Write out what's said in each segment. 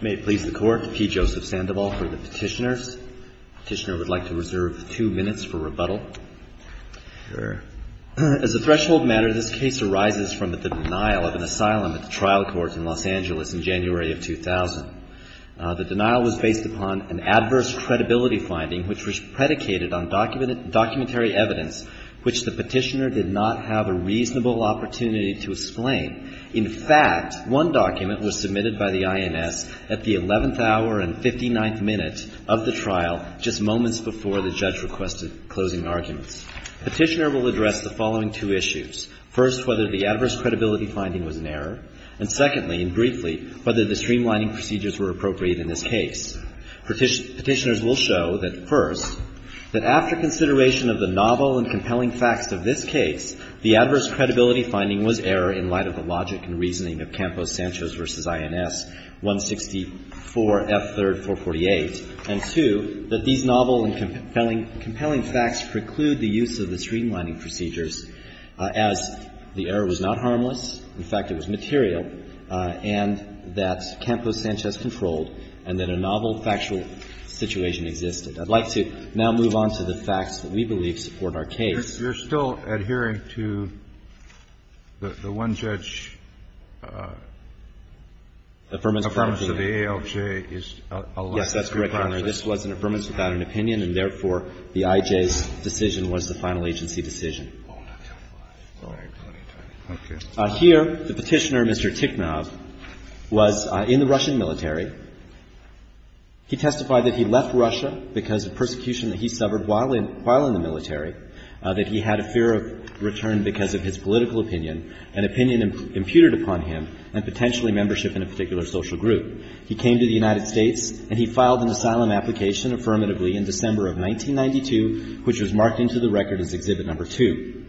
May it please the Court, P. Joseph Sandoval for the Petitioners. Petitioner would like to reserve two minutes for rebuttal. As a threshold matter, this case arises from the denial of an asylum at the trial court in Los Angeles in January of 2000. The denial was based upon an adverse credibility finding which was predicated on documentary evidence which the petitioner did not have a reasonable opportunity to explain. In fact, one document was submitted by the INS at the 11th hour and 59th minute of the trial, just moments before the judge requested closing arguments. Petitioner will address the following two issues. First, whether the adverse credibility finding was an error, and secondly, and briefly, whether the streamlining procedures were appropriate in this case. Petitioners will show that, first, that after consideration of the novel and compelling facts of this case, the adverse credibility finding was error in light of the logic and reasoning of Campos-Sanchez v. INS 164F3R48, and, two, that these novel and compelling facts preclude the use of the streamlining procedures as the error was not harmless, in fact, it was material, and that Campos-Sanchez controlled and that a novel factual situation existed. I'd like to now move on to the facts that we believe support our case. Kennedy. You're still adhering to the one-judge affirmation of the ALJ is a lesser process? Bursch. Yes, that's correct, Your Honor. This was an affirmation without an opinion, and therefore, the IJ's decision was the final agency decision. Kennedy. Okay. Bursch. Here, the petitioner, Mr. Tikhnov, was in the Russian military. He testified that he left Russia because of persecution that he suffered while in the military, that he had a fear of return because of his political opinion, an opinion imputed upon him and potentially membership in a particular social group. He came to the United States, and he filed an asylum application affirmatively in December of 1992, which was marked into the record as Exhibit No. 2.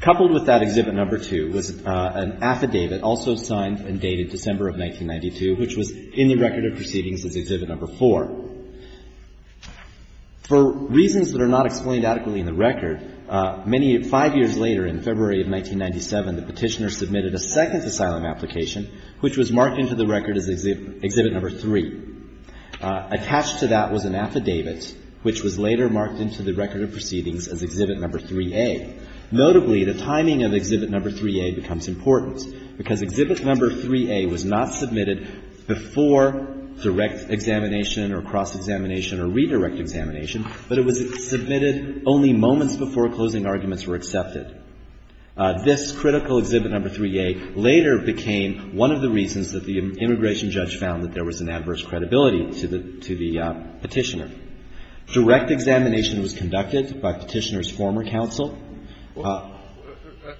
Coupled with that Exhibit No. 2 was an affidavit also signed and dated December of 1992, which was in the record of proceedings as Exhibit No. 4. For reasons that are not explained adequately in the record, many five years later, in February of 1997, the petitioner submitted a second asylum application, which was marked into the record as Exhibit No. 3. Attached to that was an affidavit, which was later marked into the record of proceedings as Exhibit No. 3A. Notably, the timing of Exhibit No. 3A becomes important, because Exhibit No. 3A was not submitted before direct examination or cross-examination or redirect examination, but it was submitted only moments before closing arguments were accepted. This critical Exhibit No. 3A later became one of the reasons that the immigration judge found that there was an adverse credibility to the petitioner. Direct examination was conducted by Petitioner's former counsel. Well,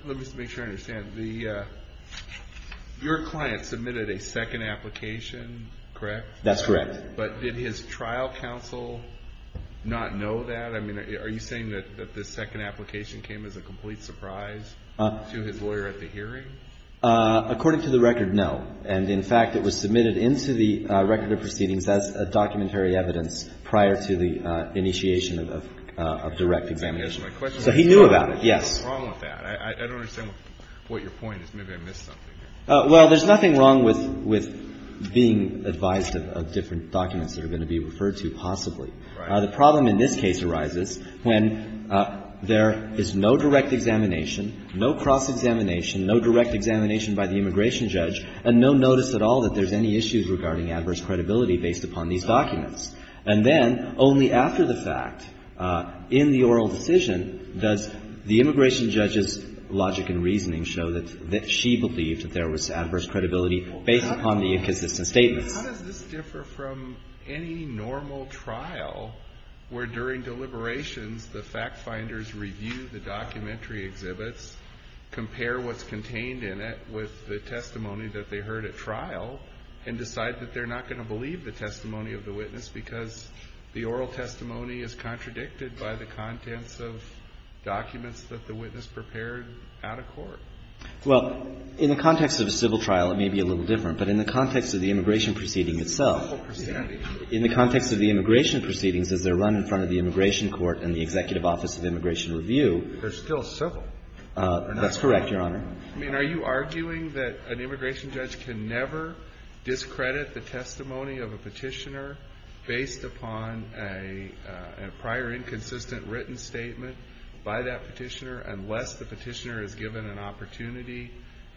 let me just make sure I understand. The — your client submitted a second application, correct? That's correct. But did his trial counsel not know that? I mean, are you saying that this second application came as a complete surprise to his lawyer at the hearing? According to the record, no. And, in fact, it was submitted into the record of proceedings as a documentary evidence prior to the initiation of direct examination. So he knew about it, yes. What's wrong with that? I don't understand what your point is. Maybe I missed something. Well, there's nothing wrong with being advised of different documents that are going to be referred to, possibly. The problem in this case arises when there is no direct examination, no cross-examination, no direct examination by the immigration judge, and no notice at all that there's any issues regarding adverse credibility based upon these documents. And then, only after the fact, in the oral decision, does the immigration judge's logic and reasoning show that she believed that there was adverse credibility based upon the inconsistent statements. How does this differ from any normal trial where, during deliberations, the fact-finders review the documentary exhibits, compare what's contained in it with the testimony that they heard at trial, and decide that they're not going to believe the testimony of the witness because the oral testimony is contradicted by the contents of documents that the witness prepared at a court? Well, in the context of a civil trial, it may be a little different. But in the context of the immigration proceeding itself, in the context of the immigration proceedings, as they're run in front of the immigration court and the executive office of immigration review. They're still civil. That's correct, Your Honor. I mean, are you arguing that an immigration judge can never discredit the testimony of a petitioner based upon a prior inconsistent written statement by that petitioner unless the petitioner is given an opportunity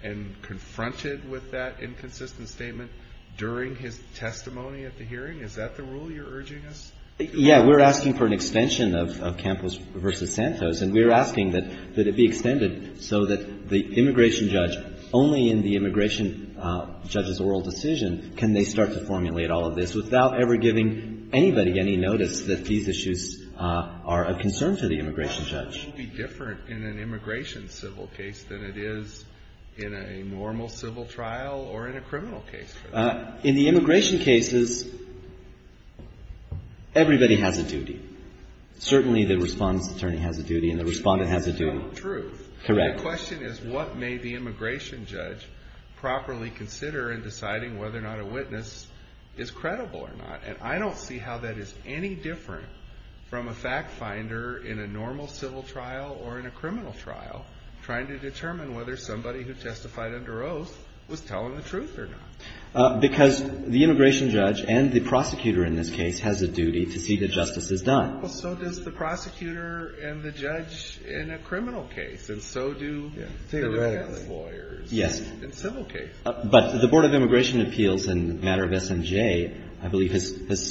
and confronted with that inconsistent statement during his testimony at the hearing? Is that the rule you're urging us to follow? Yeah. We're asking for an extension of Campos v. Santos. And we're asking that it be extended so that the immigration judge, only in the immigration judge's oral decision, can they start to formulate all of this without ever giving anybody any notice that these issues are a concern to the immigration judge. How should it be different in an immigration civil case than it is in a normal civil trial or in a criminal case? In the immigration cases, everybody has a duty. Certainly the Respondent's Attorney has a duty and the Respondent has a duty. That's not the truth. Correct. And the question is, what may the immigration judge properly consider in deciding whether or not a witness is credible or not? And I don't see how that is any different from a fact finder in a normal civil trial or in a criminal trial trying to determine whether somebody who testified under oath was telling the truth or not. Because the immigration judge and the prosecutor in this case has a duty to see that justice is done. Well, so does the prosecutor and the judge in a criminal case. And so do the family lawyers in civil cases. But the Board of Immigration Appeals in the matter of SMJ, I believe, has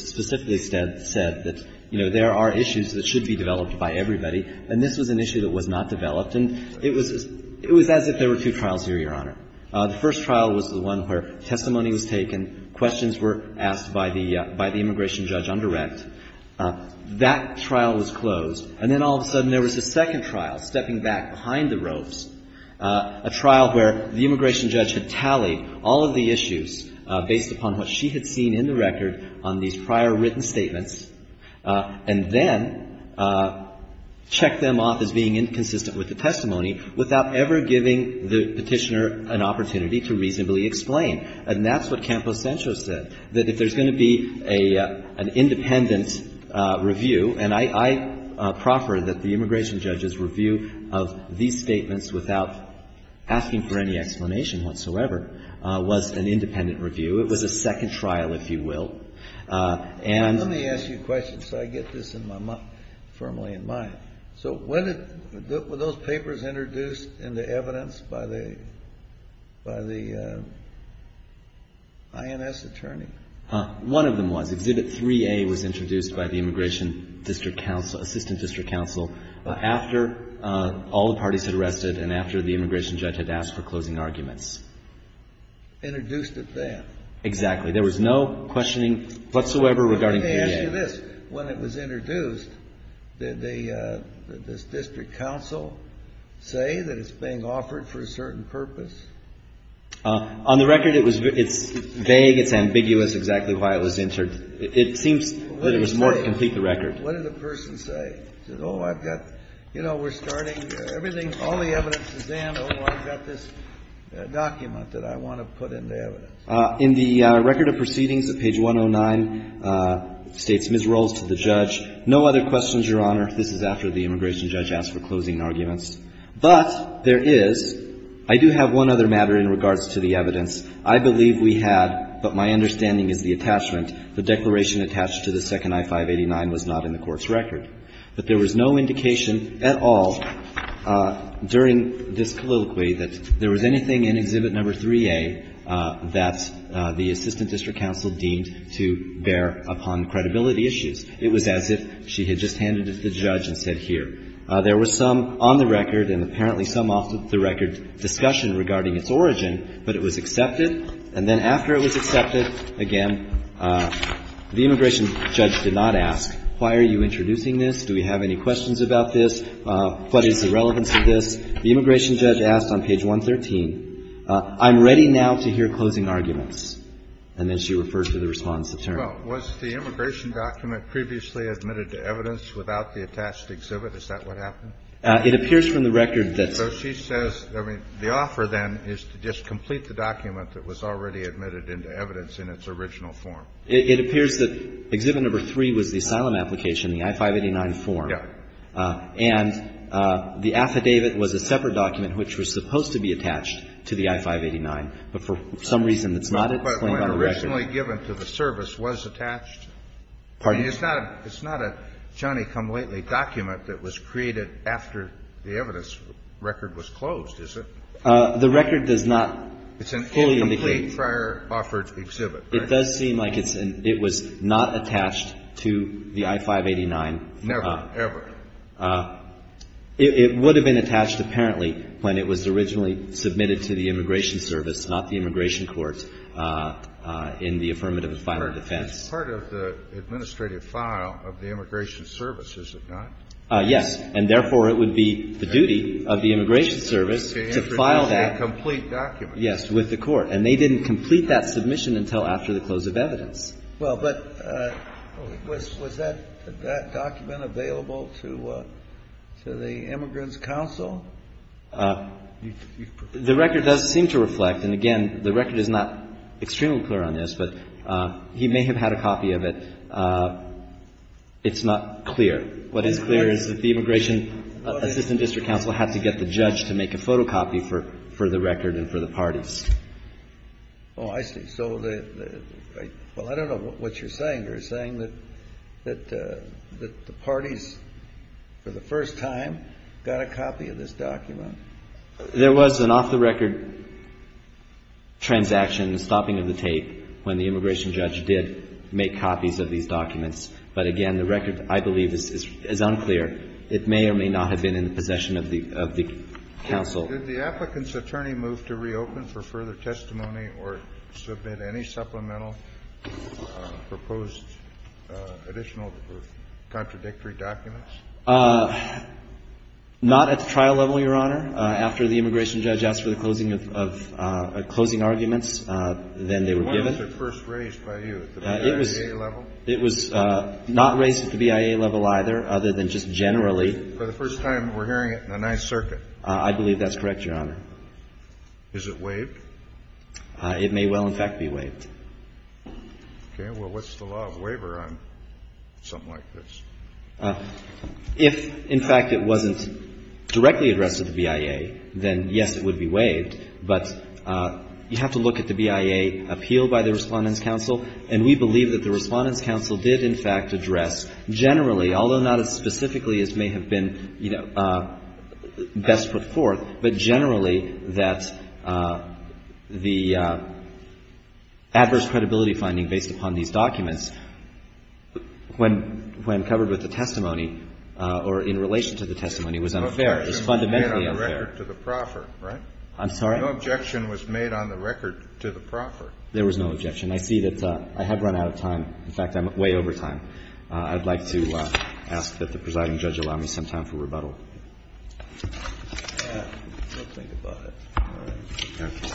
specifically said that, you know, there are issues that should be developed by everybody. And this was an issue that was not developed. And it was as if there were two trials here, Your Honor. The first trial was the one where testimony was taken, questions were asked by the immigration judge on direct. That trial was closed. And then all of a sudden there was a second trial stepping back behind the ropes, a trial where the immigration judge had tallied all of the issues based upon what she had seen in the record on these prior written statements, and then checked them off as being inconsistent with the testimony without ever giving the Petitioner an opportunity to reasonably explain. And that's what Campos Sancho said, that if there's going to be an independent review, and I proffer that the immigration judge's review of these statements without asking for any explanation whatsoever was an independent review. It was a second trial, if you will. And Let me ask you a question so I get this in my mind, firmly in mind. So were those papers introduced into evidence by the INS attorney? One of them was. Exhibit 3A was introduced by the Immigration District Council, after all the parties had arrested and after the immigration judge had asked for closing arguments. Introduced at that? Exactly. There was no questioning whatsoever regarding 3A. Let me ask you this. When it was introduced, did the District Council say that it's being offered for a certain purpose? On the record, it's vague, it's ambiguous exactly why it was entered. It seems that it was more to complete the record. What did the person say? Oh, I've got, you know, we're starting everything, all the evidence is in. Oh, I've got this document that I want to put into evidence. In the record of proceedings at page 109, states Ms. Rolls to the judge, no other questions, Your Honor. This is after the immigration judge asked for closing arguments. But there is, I do have one other matter in regards to the evidence. I believe we had, but my understanding is the attachment, the declaration attached to the second I-589 was not in the court's record. But there was no indication at all during this colloquy that there was anything in Exhibit No. 3A that the Assistant District Counsel deemed to bear upon credibility issues. It was as if she had just handed it to the judge and said, here. There was some on the record and apparently some off the record discussion regarding its origin, but it was accepted. And then after it was accepted, again, the immigration judge did not ask, why are you introducing this? Do we have any questions about this? What is the relevance of this? The immigration judge asked on page 113, I'm ready now to hear closing arguments. And then she refers to the response of Turner. Well, was the immigration document previously admitted to evidence without the attached exhibit? Is that what happened? It appears from the record that So she says, I mean, the offer then is to just complete the document that was already admitted into evidence in its original form. It appears that Exhibit No. 3 was the asylum application, the I-589 form. Yeah. And the affidavit was a separate document which was supposed to be attached to the I-589, but for some reason it's not. But when originally given to the service, was attached? Pardon? I mean, it's not a Johnny-come-lately document that was created after the evidence record was closed, is it? The record does not fully indicate the prior offered exhibit, right? It does seem like it was not attached to the I-589. Never, ever. It would have been attached apparently when it was originally submitted to the Immigration Service, not the Immigration Court, in the affirmative and final defense. It's part of the administrative file of the Immigration Service, is it not? Yes. And therefore, it would be the duty of the Immigration Service to file that Complete document. Yes, with the court. And they didn't complete that submission until after the close of evidence. Well, but was that document available to the Immigrants' Council? The record does seem to reflect, and again, the record is not extremely clear on this, but he may have had a copy of it. It's not clear. What is clear is that the Immigration Assistant District Counsel had to get the copies. Oh, I see. So, well, I don't know what you're saying. You're saying that the parties, for the first time, got a copy of this document? There was an off-the-record transaction, a stopping of the tape, when the immigration judge did make copies of these documents. But again, the record, I believe, is unclear. It may or may not have been in the possession of the counsel. Did the applicant's attorney move to reopen for further testimony or submit any supplemental proposed additional or contradictory documents? Not at the trial level, Your Honor. After the immigration judge asked for the closing arguments, then they were given. When was it first raised by you, at the BIA level? It was not raised at the BIA level either, other than just generally. For the first time, we're hearing it in the Ninth Circuit. I believe that's correct, Your Honor. Is it waived? It may well, in fact, be waived. Okay. Well, what's the law of waiver on something like this? If, in fact, it wasn't directly addressed at the BIA, then, yes, it would be waived. But you have to look at the BIA appeal by the Respondents' Counsel, and we believe that the Respondents' Counsel did, in fact, address generally, although not as put forth, but generally that the adverse credibility finding based upon these documents, when covered with the testimony or in relation to the testimony, was unfair. It was fundamentally unfair. But there was no objection made on the record to the proffer, right? I'm sorry? No objection was made on the record to the proffer. There was no objection. I see that I have run out of time. In fact, I'm way over time. I'd like to ask that the presiding judge allow me some time for rebuttal. I'll think about it. All right. Be careful.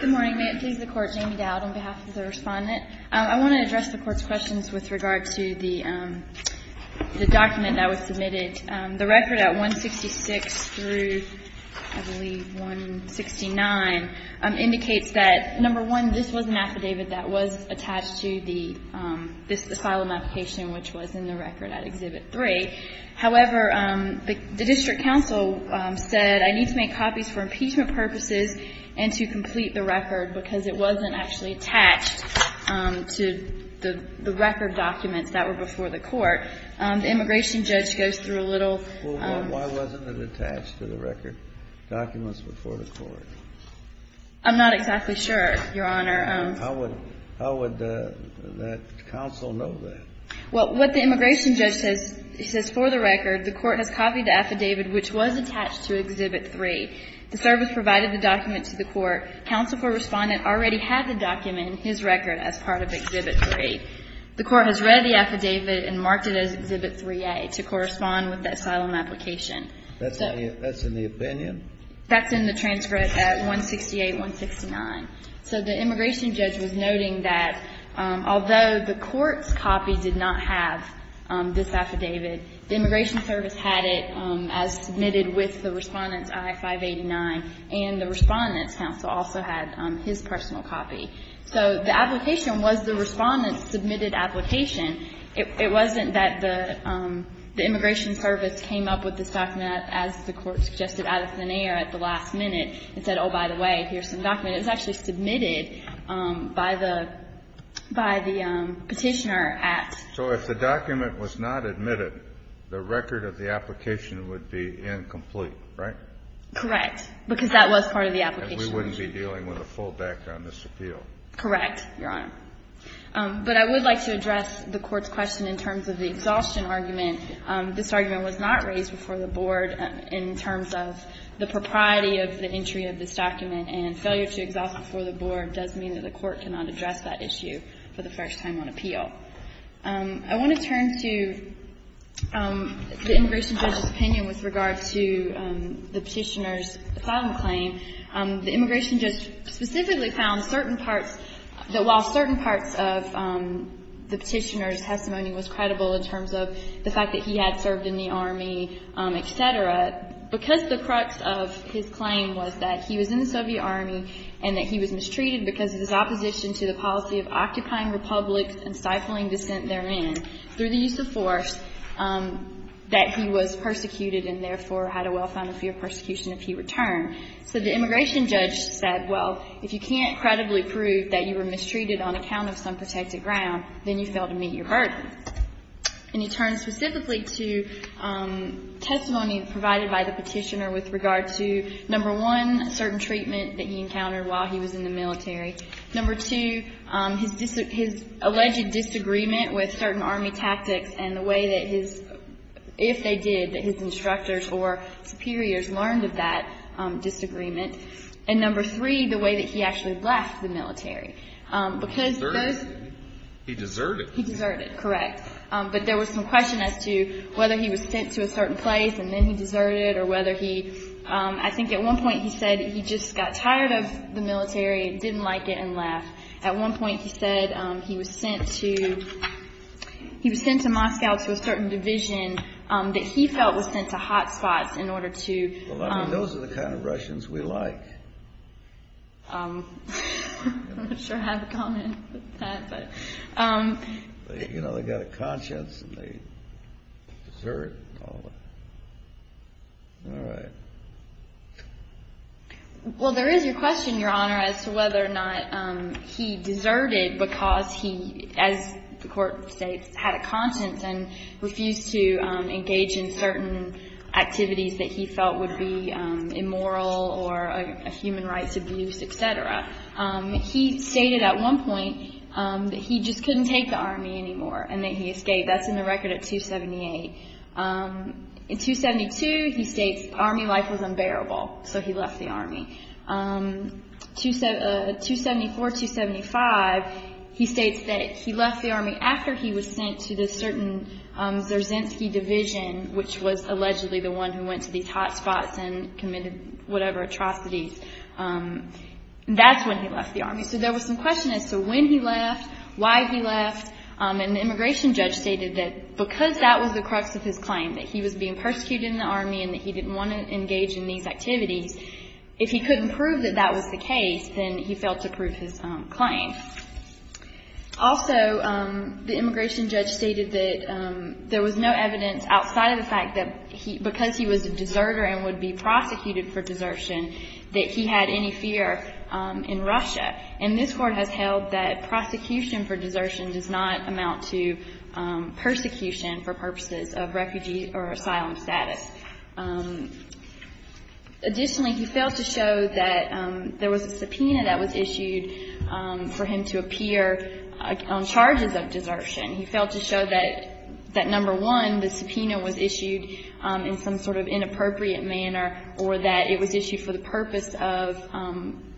Good morning. May it please the Court. Jamie Dowd on behalf of the Respondent. I want to address the Court's questions with regard to the document that was submitted. The record at 166 through, I believe, 169, indicates that, number one, this was an affidavit that was attached to this asylum application, which was in the record at Exhibit 3. However, the district counsel said, I need to make copies for impeachment purposes and to complete the record, because it wasn't actually attached to the record documents that were before the Court. The immigration judge goes through a little. Well, why wasn't it attached to the record documents before the Court? I'm not exactly sure, Your Honor. How would that counsel know that? Well, what the immigration judge says, he says, for the record, the Court has copied the affidavit, which was attached to Exhibit 3. The service provided the document to the Court. Counsel for Respondent already had the document in his record as part of Exhibit 3. The Court has read the affidavit and marked it as Exhibit 3A to correspond with the asylum application. That's in the opinion? That's in the transcript at 168, 169. So the immigration judge was noting that, although the Court's copy did not have this affidavit, the immigration service had it as submitted with the Respondent's I-589, and the Respondent's counsel also had his personal copy. So the application was the Respondent's submitted application. It wasn't that the immigration service came up with this document as the Court suggested out of thin air at the last minute and said, oh, by the way, here's some document. It was actually submitted by the Petitioner at ---- So if the document was not admitted, the record of the application would be incomplete, right? Correct. Because that was part of the application. And we wouldn't be dealing with a full backdrop on this appeal. Correct, Your Honor. But I would like to address the Court's question in terms of the exhaustion argument. This argument was not raised before the Board in terms of the propriety of the entry of this document, and failure to exhaust it before the Board does mean that the Court cannot address that issue for the first time on appeal. I want to turn to the immigration judge's opinion with regard to the Petitioner's asylum claim. The immigration judge specifically found certain parts that while certain parts of the Petitioner's testimony was credible in terms of the fact that he had served in the Soviet Army and that he was mistreated because of his opposition to the policy of occupying republics and stifling dissent therein through the use of force, that he was persecuted and therefore had a well-founded fear of persecution if he returned. So the immigration judge said, well, if you can't credibly prove that you were mistreated on account of some protected ground, then you fail to meet your burden. And he turned specifically to testimony provided by the Petitioner with regard to, number one, certain treatment that he encountered while he was in the military. Number two, his alleged disagreement with certain Army tactics and the way that his – if they did, that his instructors or superiors learned of that disagreement. And number three, the way that he actually left the military. Because those – He deserted. He deserted. He deserted, correct. But there was some question as to whether he was sent to a certain place and then he At one point he said he just got tired of the military and didn't like it and left. At one point he said he was sent to – he was sent to Moscow to a certain division that he felt was sent to hot spots in order to – Well, I mean, those are the kind of Russians we like. I'm not sure how to comment on that, but – You know, they've got a conscience and they desert all that. All right. Well, there is a question, Your Honor, as to whether or not he deserted because he, as the court states, had a conscience and refused to engage in certain activities that he felt would be immoral or a human rights abuse, et cetera. He stated at one point that he just couldn't take the Army anymore and that he escaped. That's in the record at 278. In 272, he states Army life was unbearable, so he left the Army. 274, 275, he states that he left the Army after he was sent to this certain Zerzhinsky division, which was allegedly the one who went to these hot spots and committed whatever atrocities. That's when he left the Army. So there was some question as to when he left, why he left, and the immigration judge stated that because that was the crux of his claim, that he was being persecuted in the Army and that he didn't want to engage in these activities, if he couldn't prove that that was the case, then he failed to prove his claim. Also, the immigration judge stated that there was no evidence outside of the fact that because he was a deserter and would be prosecuted for desertion, that he had any fear in Russia. And this Court has held that prosecution for desertion does not amount to persecution for purposes of refugee or asylum status. Additionally, he failed to show that there was a subpoena that was issued for him to appear on charges of desertion. He failed to show that, number one, the subpoena was issued in some sort of inappropriate manner or that it was issued for the purpose of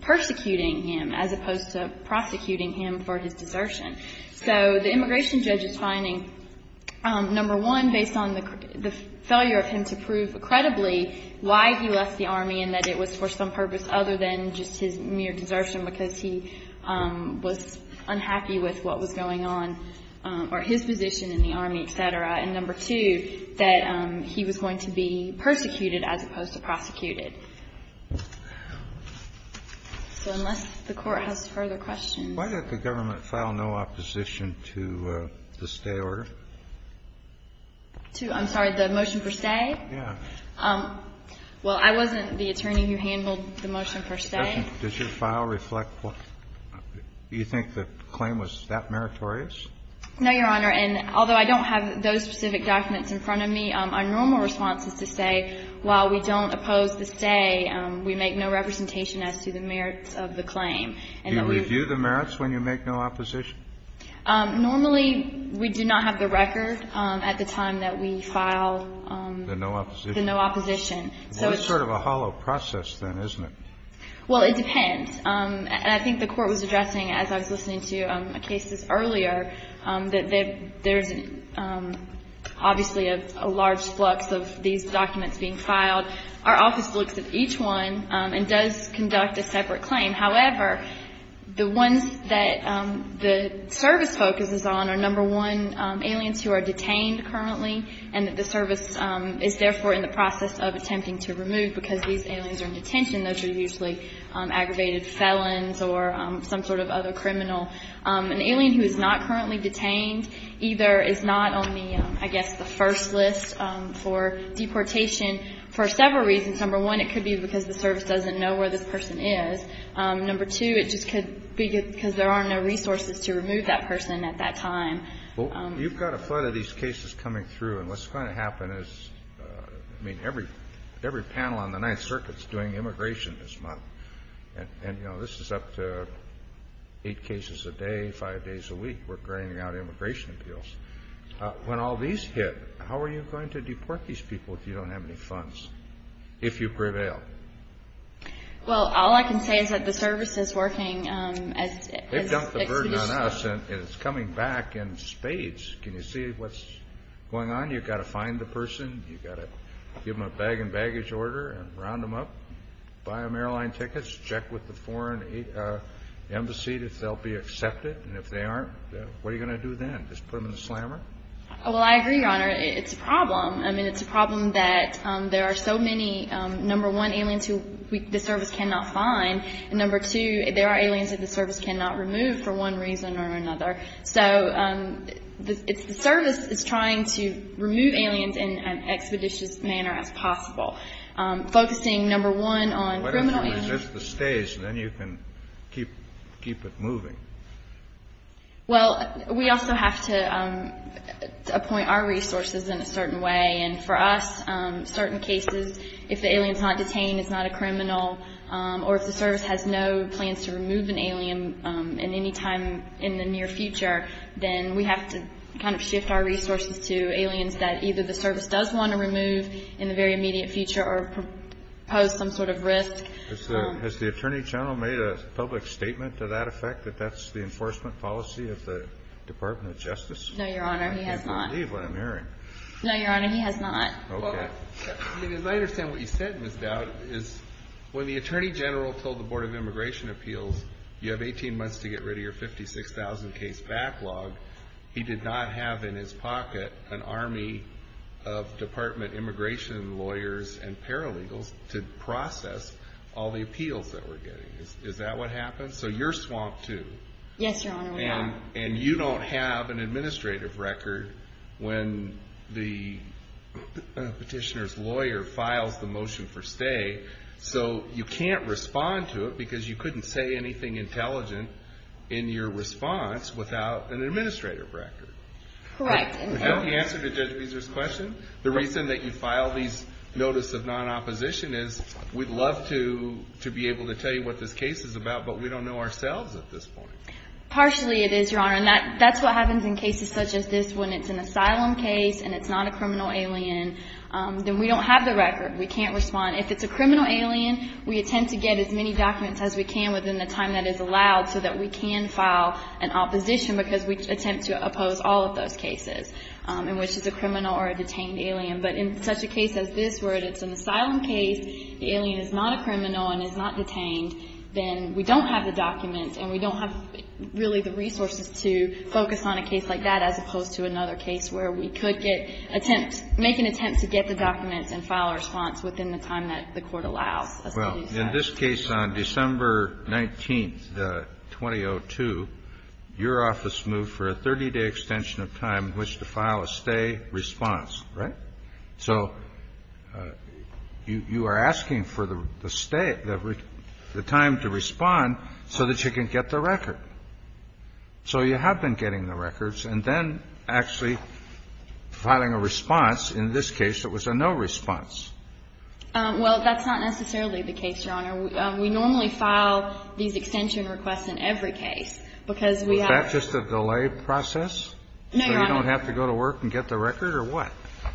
persecuting him as opposed to prosecuting him for his desertion. So the immigration judge is finding, number one, based on the failure of him to prove credibly why he left the Army and that it was for some purpose other than just his mere desertion because he was unhappy with what was going on or his position in the Army, etc. And number two, that he was going to be persecuted as opposed to prosecuted. So unless the Court has further questions. Why did the government file no opposition to the stay order? To, I'm sorry, the motion for stay? Yeah. Well, I wasn't the attorney who handled the motion for stay. Does your file reflect what you think the claim was that meritorious? No, Your Honor. And although I don't have those specific documents in front of me, our normal response is to say while we don't oppose the stay, we make no representation as to the merits of the claim. Do you review the merits when you make no opposition? Normally, we do not have the record at the time that we file the no opposition. It's sort of a hollow process then, isn't it? Well, it depends. And I think the Court was addressing, as I was listening to cases earlier, that there's obviously a large flux of these documents being filed. Our office looks at each one and does conduct a separate claim. However, the ones that the service focuses on are number one, aliens who are detained currently, and that the service is therefore in the process of attempting to remove because these aliens are in detention. Those are usually aggravated felons or some sort of other criminal. An alien who is not currently detained either is not on the, I guess, the first list for deportation for several reasons. Number one, it could be because the service doesn't know where this person is. Number two, it just could be because there are no resources to remove that person at that time. Well, you've got a flood of these cases coming through, and what's going to happen is, I mean, every panel on the Ninth Circuit is doing immigration this month. And, you know, this is up to eight cases a day, five days a week. We're carrying out immigration appeals. When all these hit, how are you going to deport these people if you don't have any funds, if you prevail? Well, all I can say is that the service is working as expected. They've dumped the burden on us, and it's coming back in spades. Can you see what's going on? You've got to find the person. You've got to give them a bag and baggage order and round them up, buy them airline tickets, check with the foreign embassy if they'll be accepted. And if they aren't, what are you going to do then? Just put them in a slammer? Well, I agree, Your Honor. It's a problem. I mean, it's a problem that there are so many, number one, aliens who the service cannot find. And number two, there are aliens that the service cannot remove for one reason or another. So the service is trying to remove aliens in an expeditious manner as possible, focusing, number one, on criminal aliens. What if you resist the stays? Then you can keep it moving. Well, we also have to appoint our resources in a certain way. And for us, certain cases, if the alien's not detained, it's not a criminal. Or if the service has no plans to remove an alien in any time in the near future, then we have to kind of shift our resources to aliens that either the service does want to remove in the very immediate future or pose some sort of risk. Has the Attorney General made a public statement to that effect, that that's the enforcement policy of the Department of Justice? No, Your Honor, he has not. I can't believe what I'm hearing. No, Your Honor, he has not. Okay. I mean, as I understand what you said, Ms. Dowd, is when the Attorney General told the Board of Immigration Appeals, you have 18 months to get rid of your 56,000 case backlog, he did not have in his pocket an army of Department of Immigration lawyers and paralegals to process all the appeals that we're getting. Is that what happened? So you're swamped, too. Yes, Your Honor, we are. And you don't have an administrative record when the petitioner's lawyer files the motion for stay, so you can't respond to it because you couldn't say anything intelligent in your response without an administrative record. Correct. That's the answer to Judge Beezer's question? The reason that you filed these notice of non-opposition is we'd love to be able to tell you what this case is about, but we don't know ourselves at this point. Partially it is, Your Honor, and that's what happens in cases such as this one. It's an asylum case and it's not a criminal alien, then we don't have the record. We can't respond. If it's a criminal alien, we attempt to get as many documents as we can within the time that is allowed so that we can file an opposition because we attempt to oppose all of those cases, in which it's a criminal or a detained alien. But in such a case as this where it's an asylum case, the alien is not a criminal and is not detained, then we don't have the documents and we don't have really the resources to focus on a case like that as opposed to another case where we could make an attempt to get the documents and file a response within the time that the court allows us to do so. Well, in this case on December 19th, 2002, your office moved for a 30-day extension of time in which to file a stay response, right? So you are asking for the time to respond so that you can get the record. So you have been getting the records and then actually filing a response. In this case, it was a no response. Well, that's not necessarily the case, Your Honor. We normally file these extension requests in every case because we have... Is that just a delay process? No, Your Honor. So you don't have to go to work and get the record or what?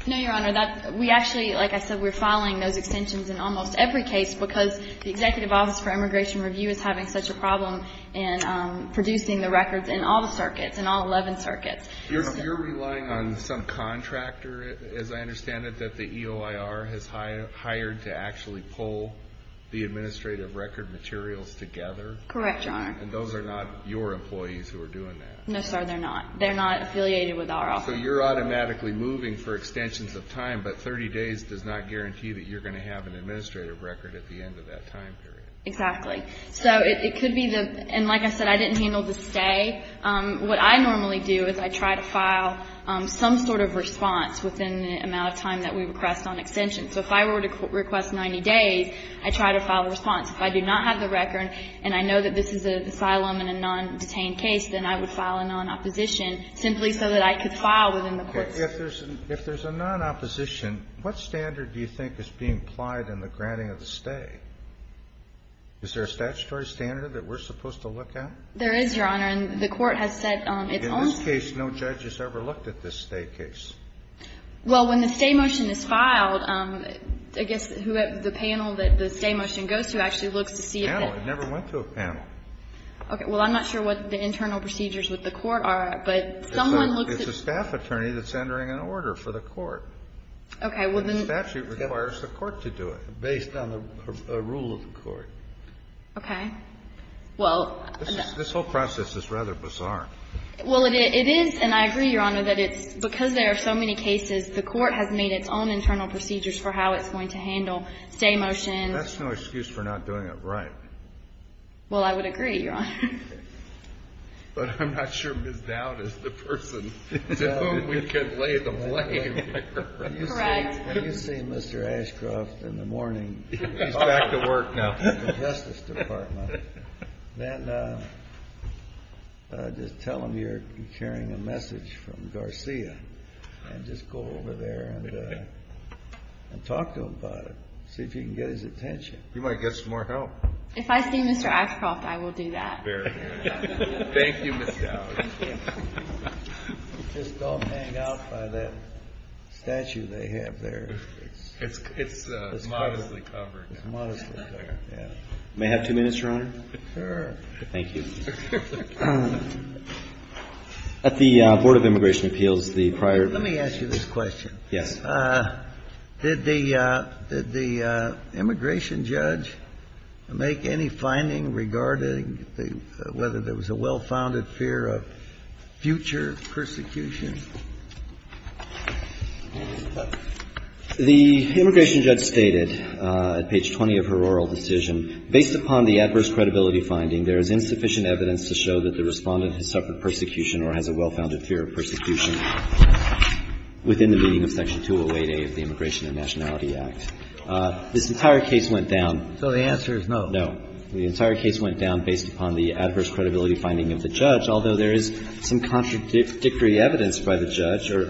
No, Your Honor. We actually, like I said, we're filing those extensions in almost every case because the Executive Office for Immigration Review is having such a problem in producing the records in all the circuits, in all 11 circuits. You're relying on some contractor, as I understand it, that the EOIR has hired to actually pull the administrative record materials together? Correct, Your Honor. And those are not your employees who are doing that? No, sir, they're not. They're not affiliated with our office. So you're automatically moving for extensions of time, but 30 days does not guarantee that you're going to have an administrative record at the end of that time period? Exactly. So it could be the... And like I said, I didn't handle the stay. What I normally do is I try to file some sort of response within the amount of time that we request on extension. So if I were to request 90 days, I try to file a response. If I do not have the record and I know that this is an asylum and a non-detained case, then I would file a non-opposition simply so that I could file within the courts. Okay. If there's a non-opposition, what standard do you think is being applied in the granting of the stay? Is there a statutory standard that we're supposed to look at? There is, Your Honor. And the Court has said it's only... In this case, no judge has ever looked at this stay case. Well, when the stay motion is filed, I guess the panel that the stay motion goes to actually looks to see if... Panel. It never went to a panel. Okay. Well, I'm not sure what the internal procedures with the Court are, but someone looks at... It's a staff attorney that's entering an order for the Court. Okay. The statute requires the Court to do it based on the rule of the Court. Okay. Well... This whole process is rather bizarre. Well, it is, and I agree, Your Honor, that it's because there are so many cases, the Court has made its own internal procedures for how it's going to handle stay motions. That's no excuse for not doing it right. Well, I would agree, Your Honor. But I'm not sure Ms. Dowd is the person to whom we can lay the blame here. Correct. When you see Mr. Ashcroft in the morning... He's back to work now. ...at the Justice Department, then just tell him you're carrying a message from Garcia, and just go over there and talk to him about it. See if you can get his attention. He might get some more help. If I see Mr. Ashcroft, I will do that. Very good. Thank you, Ms. Dowd. Just don't hang out by that statue they have there. It's modestly covered. It's modestly there, yeah. May I have two minutes, Your Honor? Sure. Thank you. At the Board of Immigration Appeals, the prior... Let me ask you this question. Yes. Did the immigration judge make any finding regarding whether there was a well-founded fear of future persecution? The immigration judge stated at page 20 of her oral decision, based upon the adverse credibility finding, there is insufficient evidence to show that the Respondent has suffered persecution or has a well-founded fear of persecution within the meaning of Section 208A of the Immigration and Nationality Act. This entire case went down... So the answer is no. No. The entire case went down based upon the adverse credibility finding of the judge, although there is some contradictory evidence by the judge or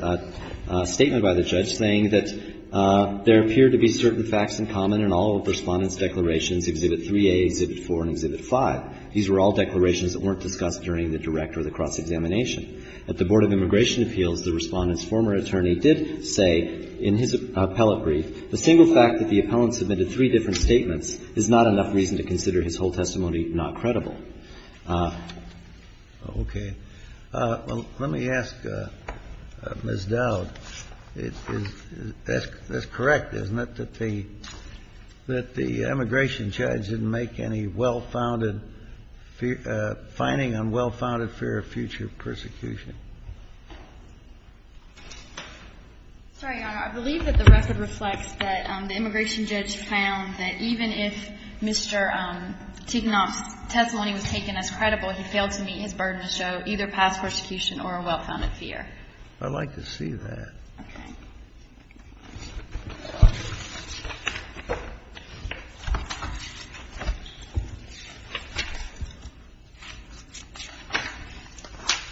a statement by the judge saying that there appeared to be certain facts in common in all of the Respondent's declarations, Exhibit 3A, Exhibit 4, and Exhibit 5. These were all declarations that weren't discussed during the direct or the cross-examination. At the Board of Immigration Appeals, the Respondent's former attorney did say, in his appellate brief, the single fact that the appellant submitted three different statements is not enough reason to consider his whole testimony not credible. Okay. Well, let me ask Ms. Dowd. That's correct, isn't it, that the immigration judge didn't make any well-founded finding on well-founded fear of future persecution? Sorry, Your Honor. I believe that the record reflects that the immigration judge found that even if Mr. Tignoff's testimony was taken as credible, he failed to meet his burden to show either past persecution or a well-founded fear. I'd like to see that. Okay.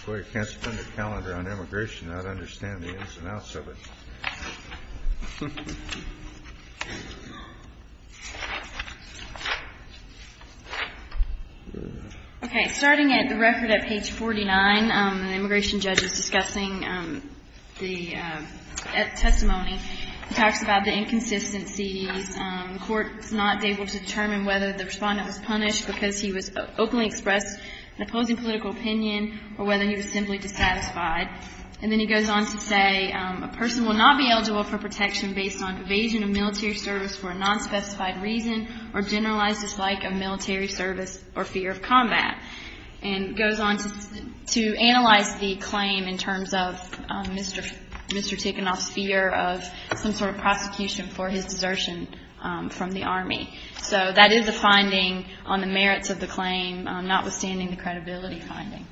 I can't spend a calendar on immigration. I don't understand the ins and outs of it. Okay. Starting at the record at page 49, the immigration judge is discussing the testimony. He talks about the inconsistencies. The court is not able to determine whether the Respondent was punished because he openly expressed an opposing political opinion or whether he was simply dissatisfied. And then he goes on to say a person will not be eligible for protection based on evasion of military service for a non-specified reason or generalized dislike of military service or fear of combat. And goes on to analyze the claim in terms of Mr. Tignoff's fear of some sort of prosecution for his desertion from the Army. So that is the finding on the merits of the claim, notwithstanding the credibility finding.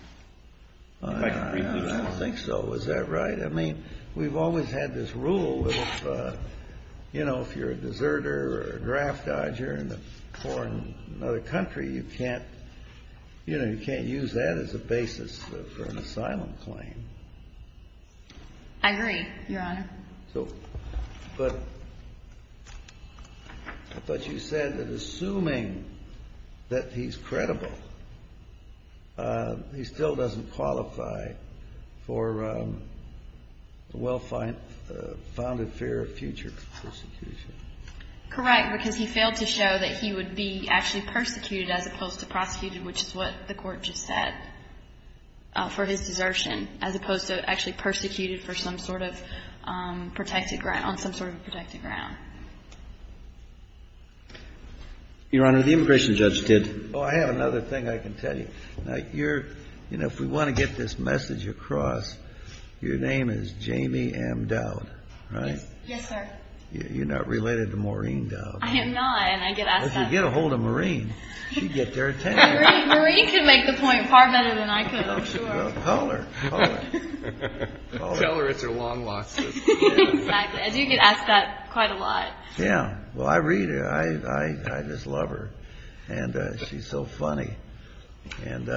I don't think so. Is that right? I mean, we've always had this rule of, you know, if you're a deserter or a draft dodger in a foreign country, you can't, you know, you can't use that as a basis for an asylum claim. I agree, Your Honor. So, but I thought you said that assuming that he's credible, he still doesn't qualify for a well-founded fear of future prosecution. Correct, because he failed to show that he would be actually persecuted as opposed to prosecuted, which is what the Court just said, for his desertion, as opposed to actually persecuted for some sort of protected ground, on some sort of protected ground. Your Honor, the immigration judge did. Oh, I have another thing I can tell you. Now, you're, you know, if we want to get this message across, your name is Jamie M. Dowd, right? Yes, sir. You're not related to Maureen Dowd. I am not, and I get asked that. If you get a hold of Maureen, she'd get their attention. Maureen can make the point far better than I could, I'm sure. Tell her. Tell her. Tell her it's her long losses. Exactly. I do get asked that quite a lot. Yeah. Well, I read her. I just love her, and she's so funny. And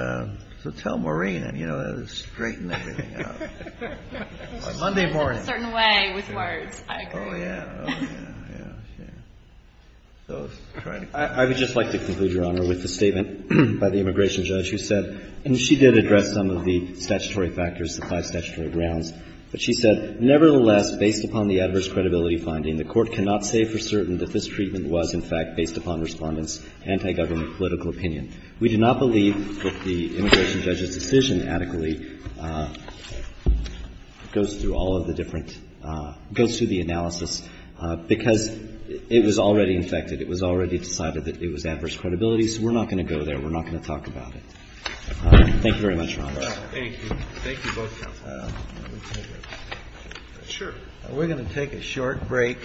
so tell Maureen, and, you know, straighten everything out. Monday morning. She says it a certain way with words. I agree. Oh, yeah. Oh, yeah. Yeah. I would just like to conclude, Your Honor, with the statement by the immigration judge who said, and she did address some of the statutory factors, the five statutory grounds, but she said, Nevertheless, based upon the adverse credibility finding, the Court cannot say for certain that this treatment was, in fact, based upon Respondent's anti-government political opinion. We do not believe that the immigration judge's decision adequately goes through all of the different goes through the analysis, because it was already infected. It was already decided that it was adverse credibility, so we're not going to go there. We're not going to talk about it. Thank you very much, Your Honor. Thank you. Thank you both. We're going to take a short break.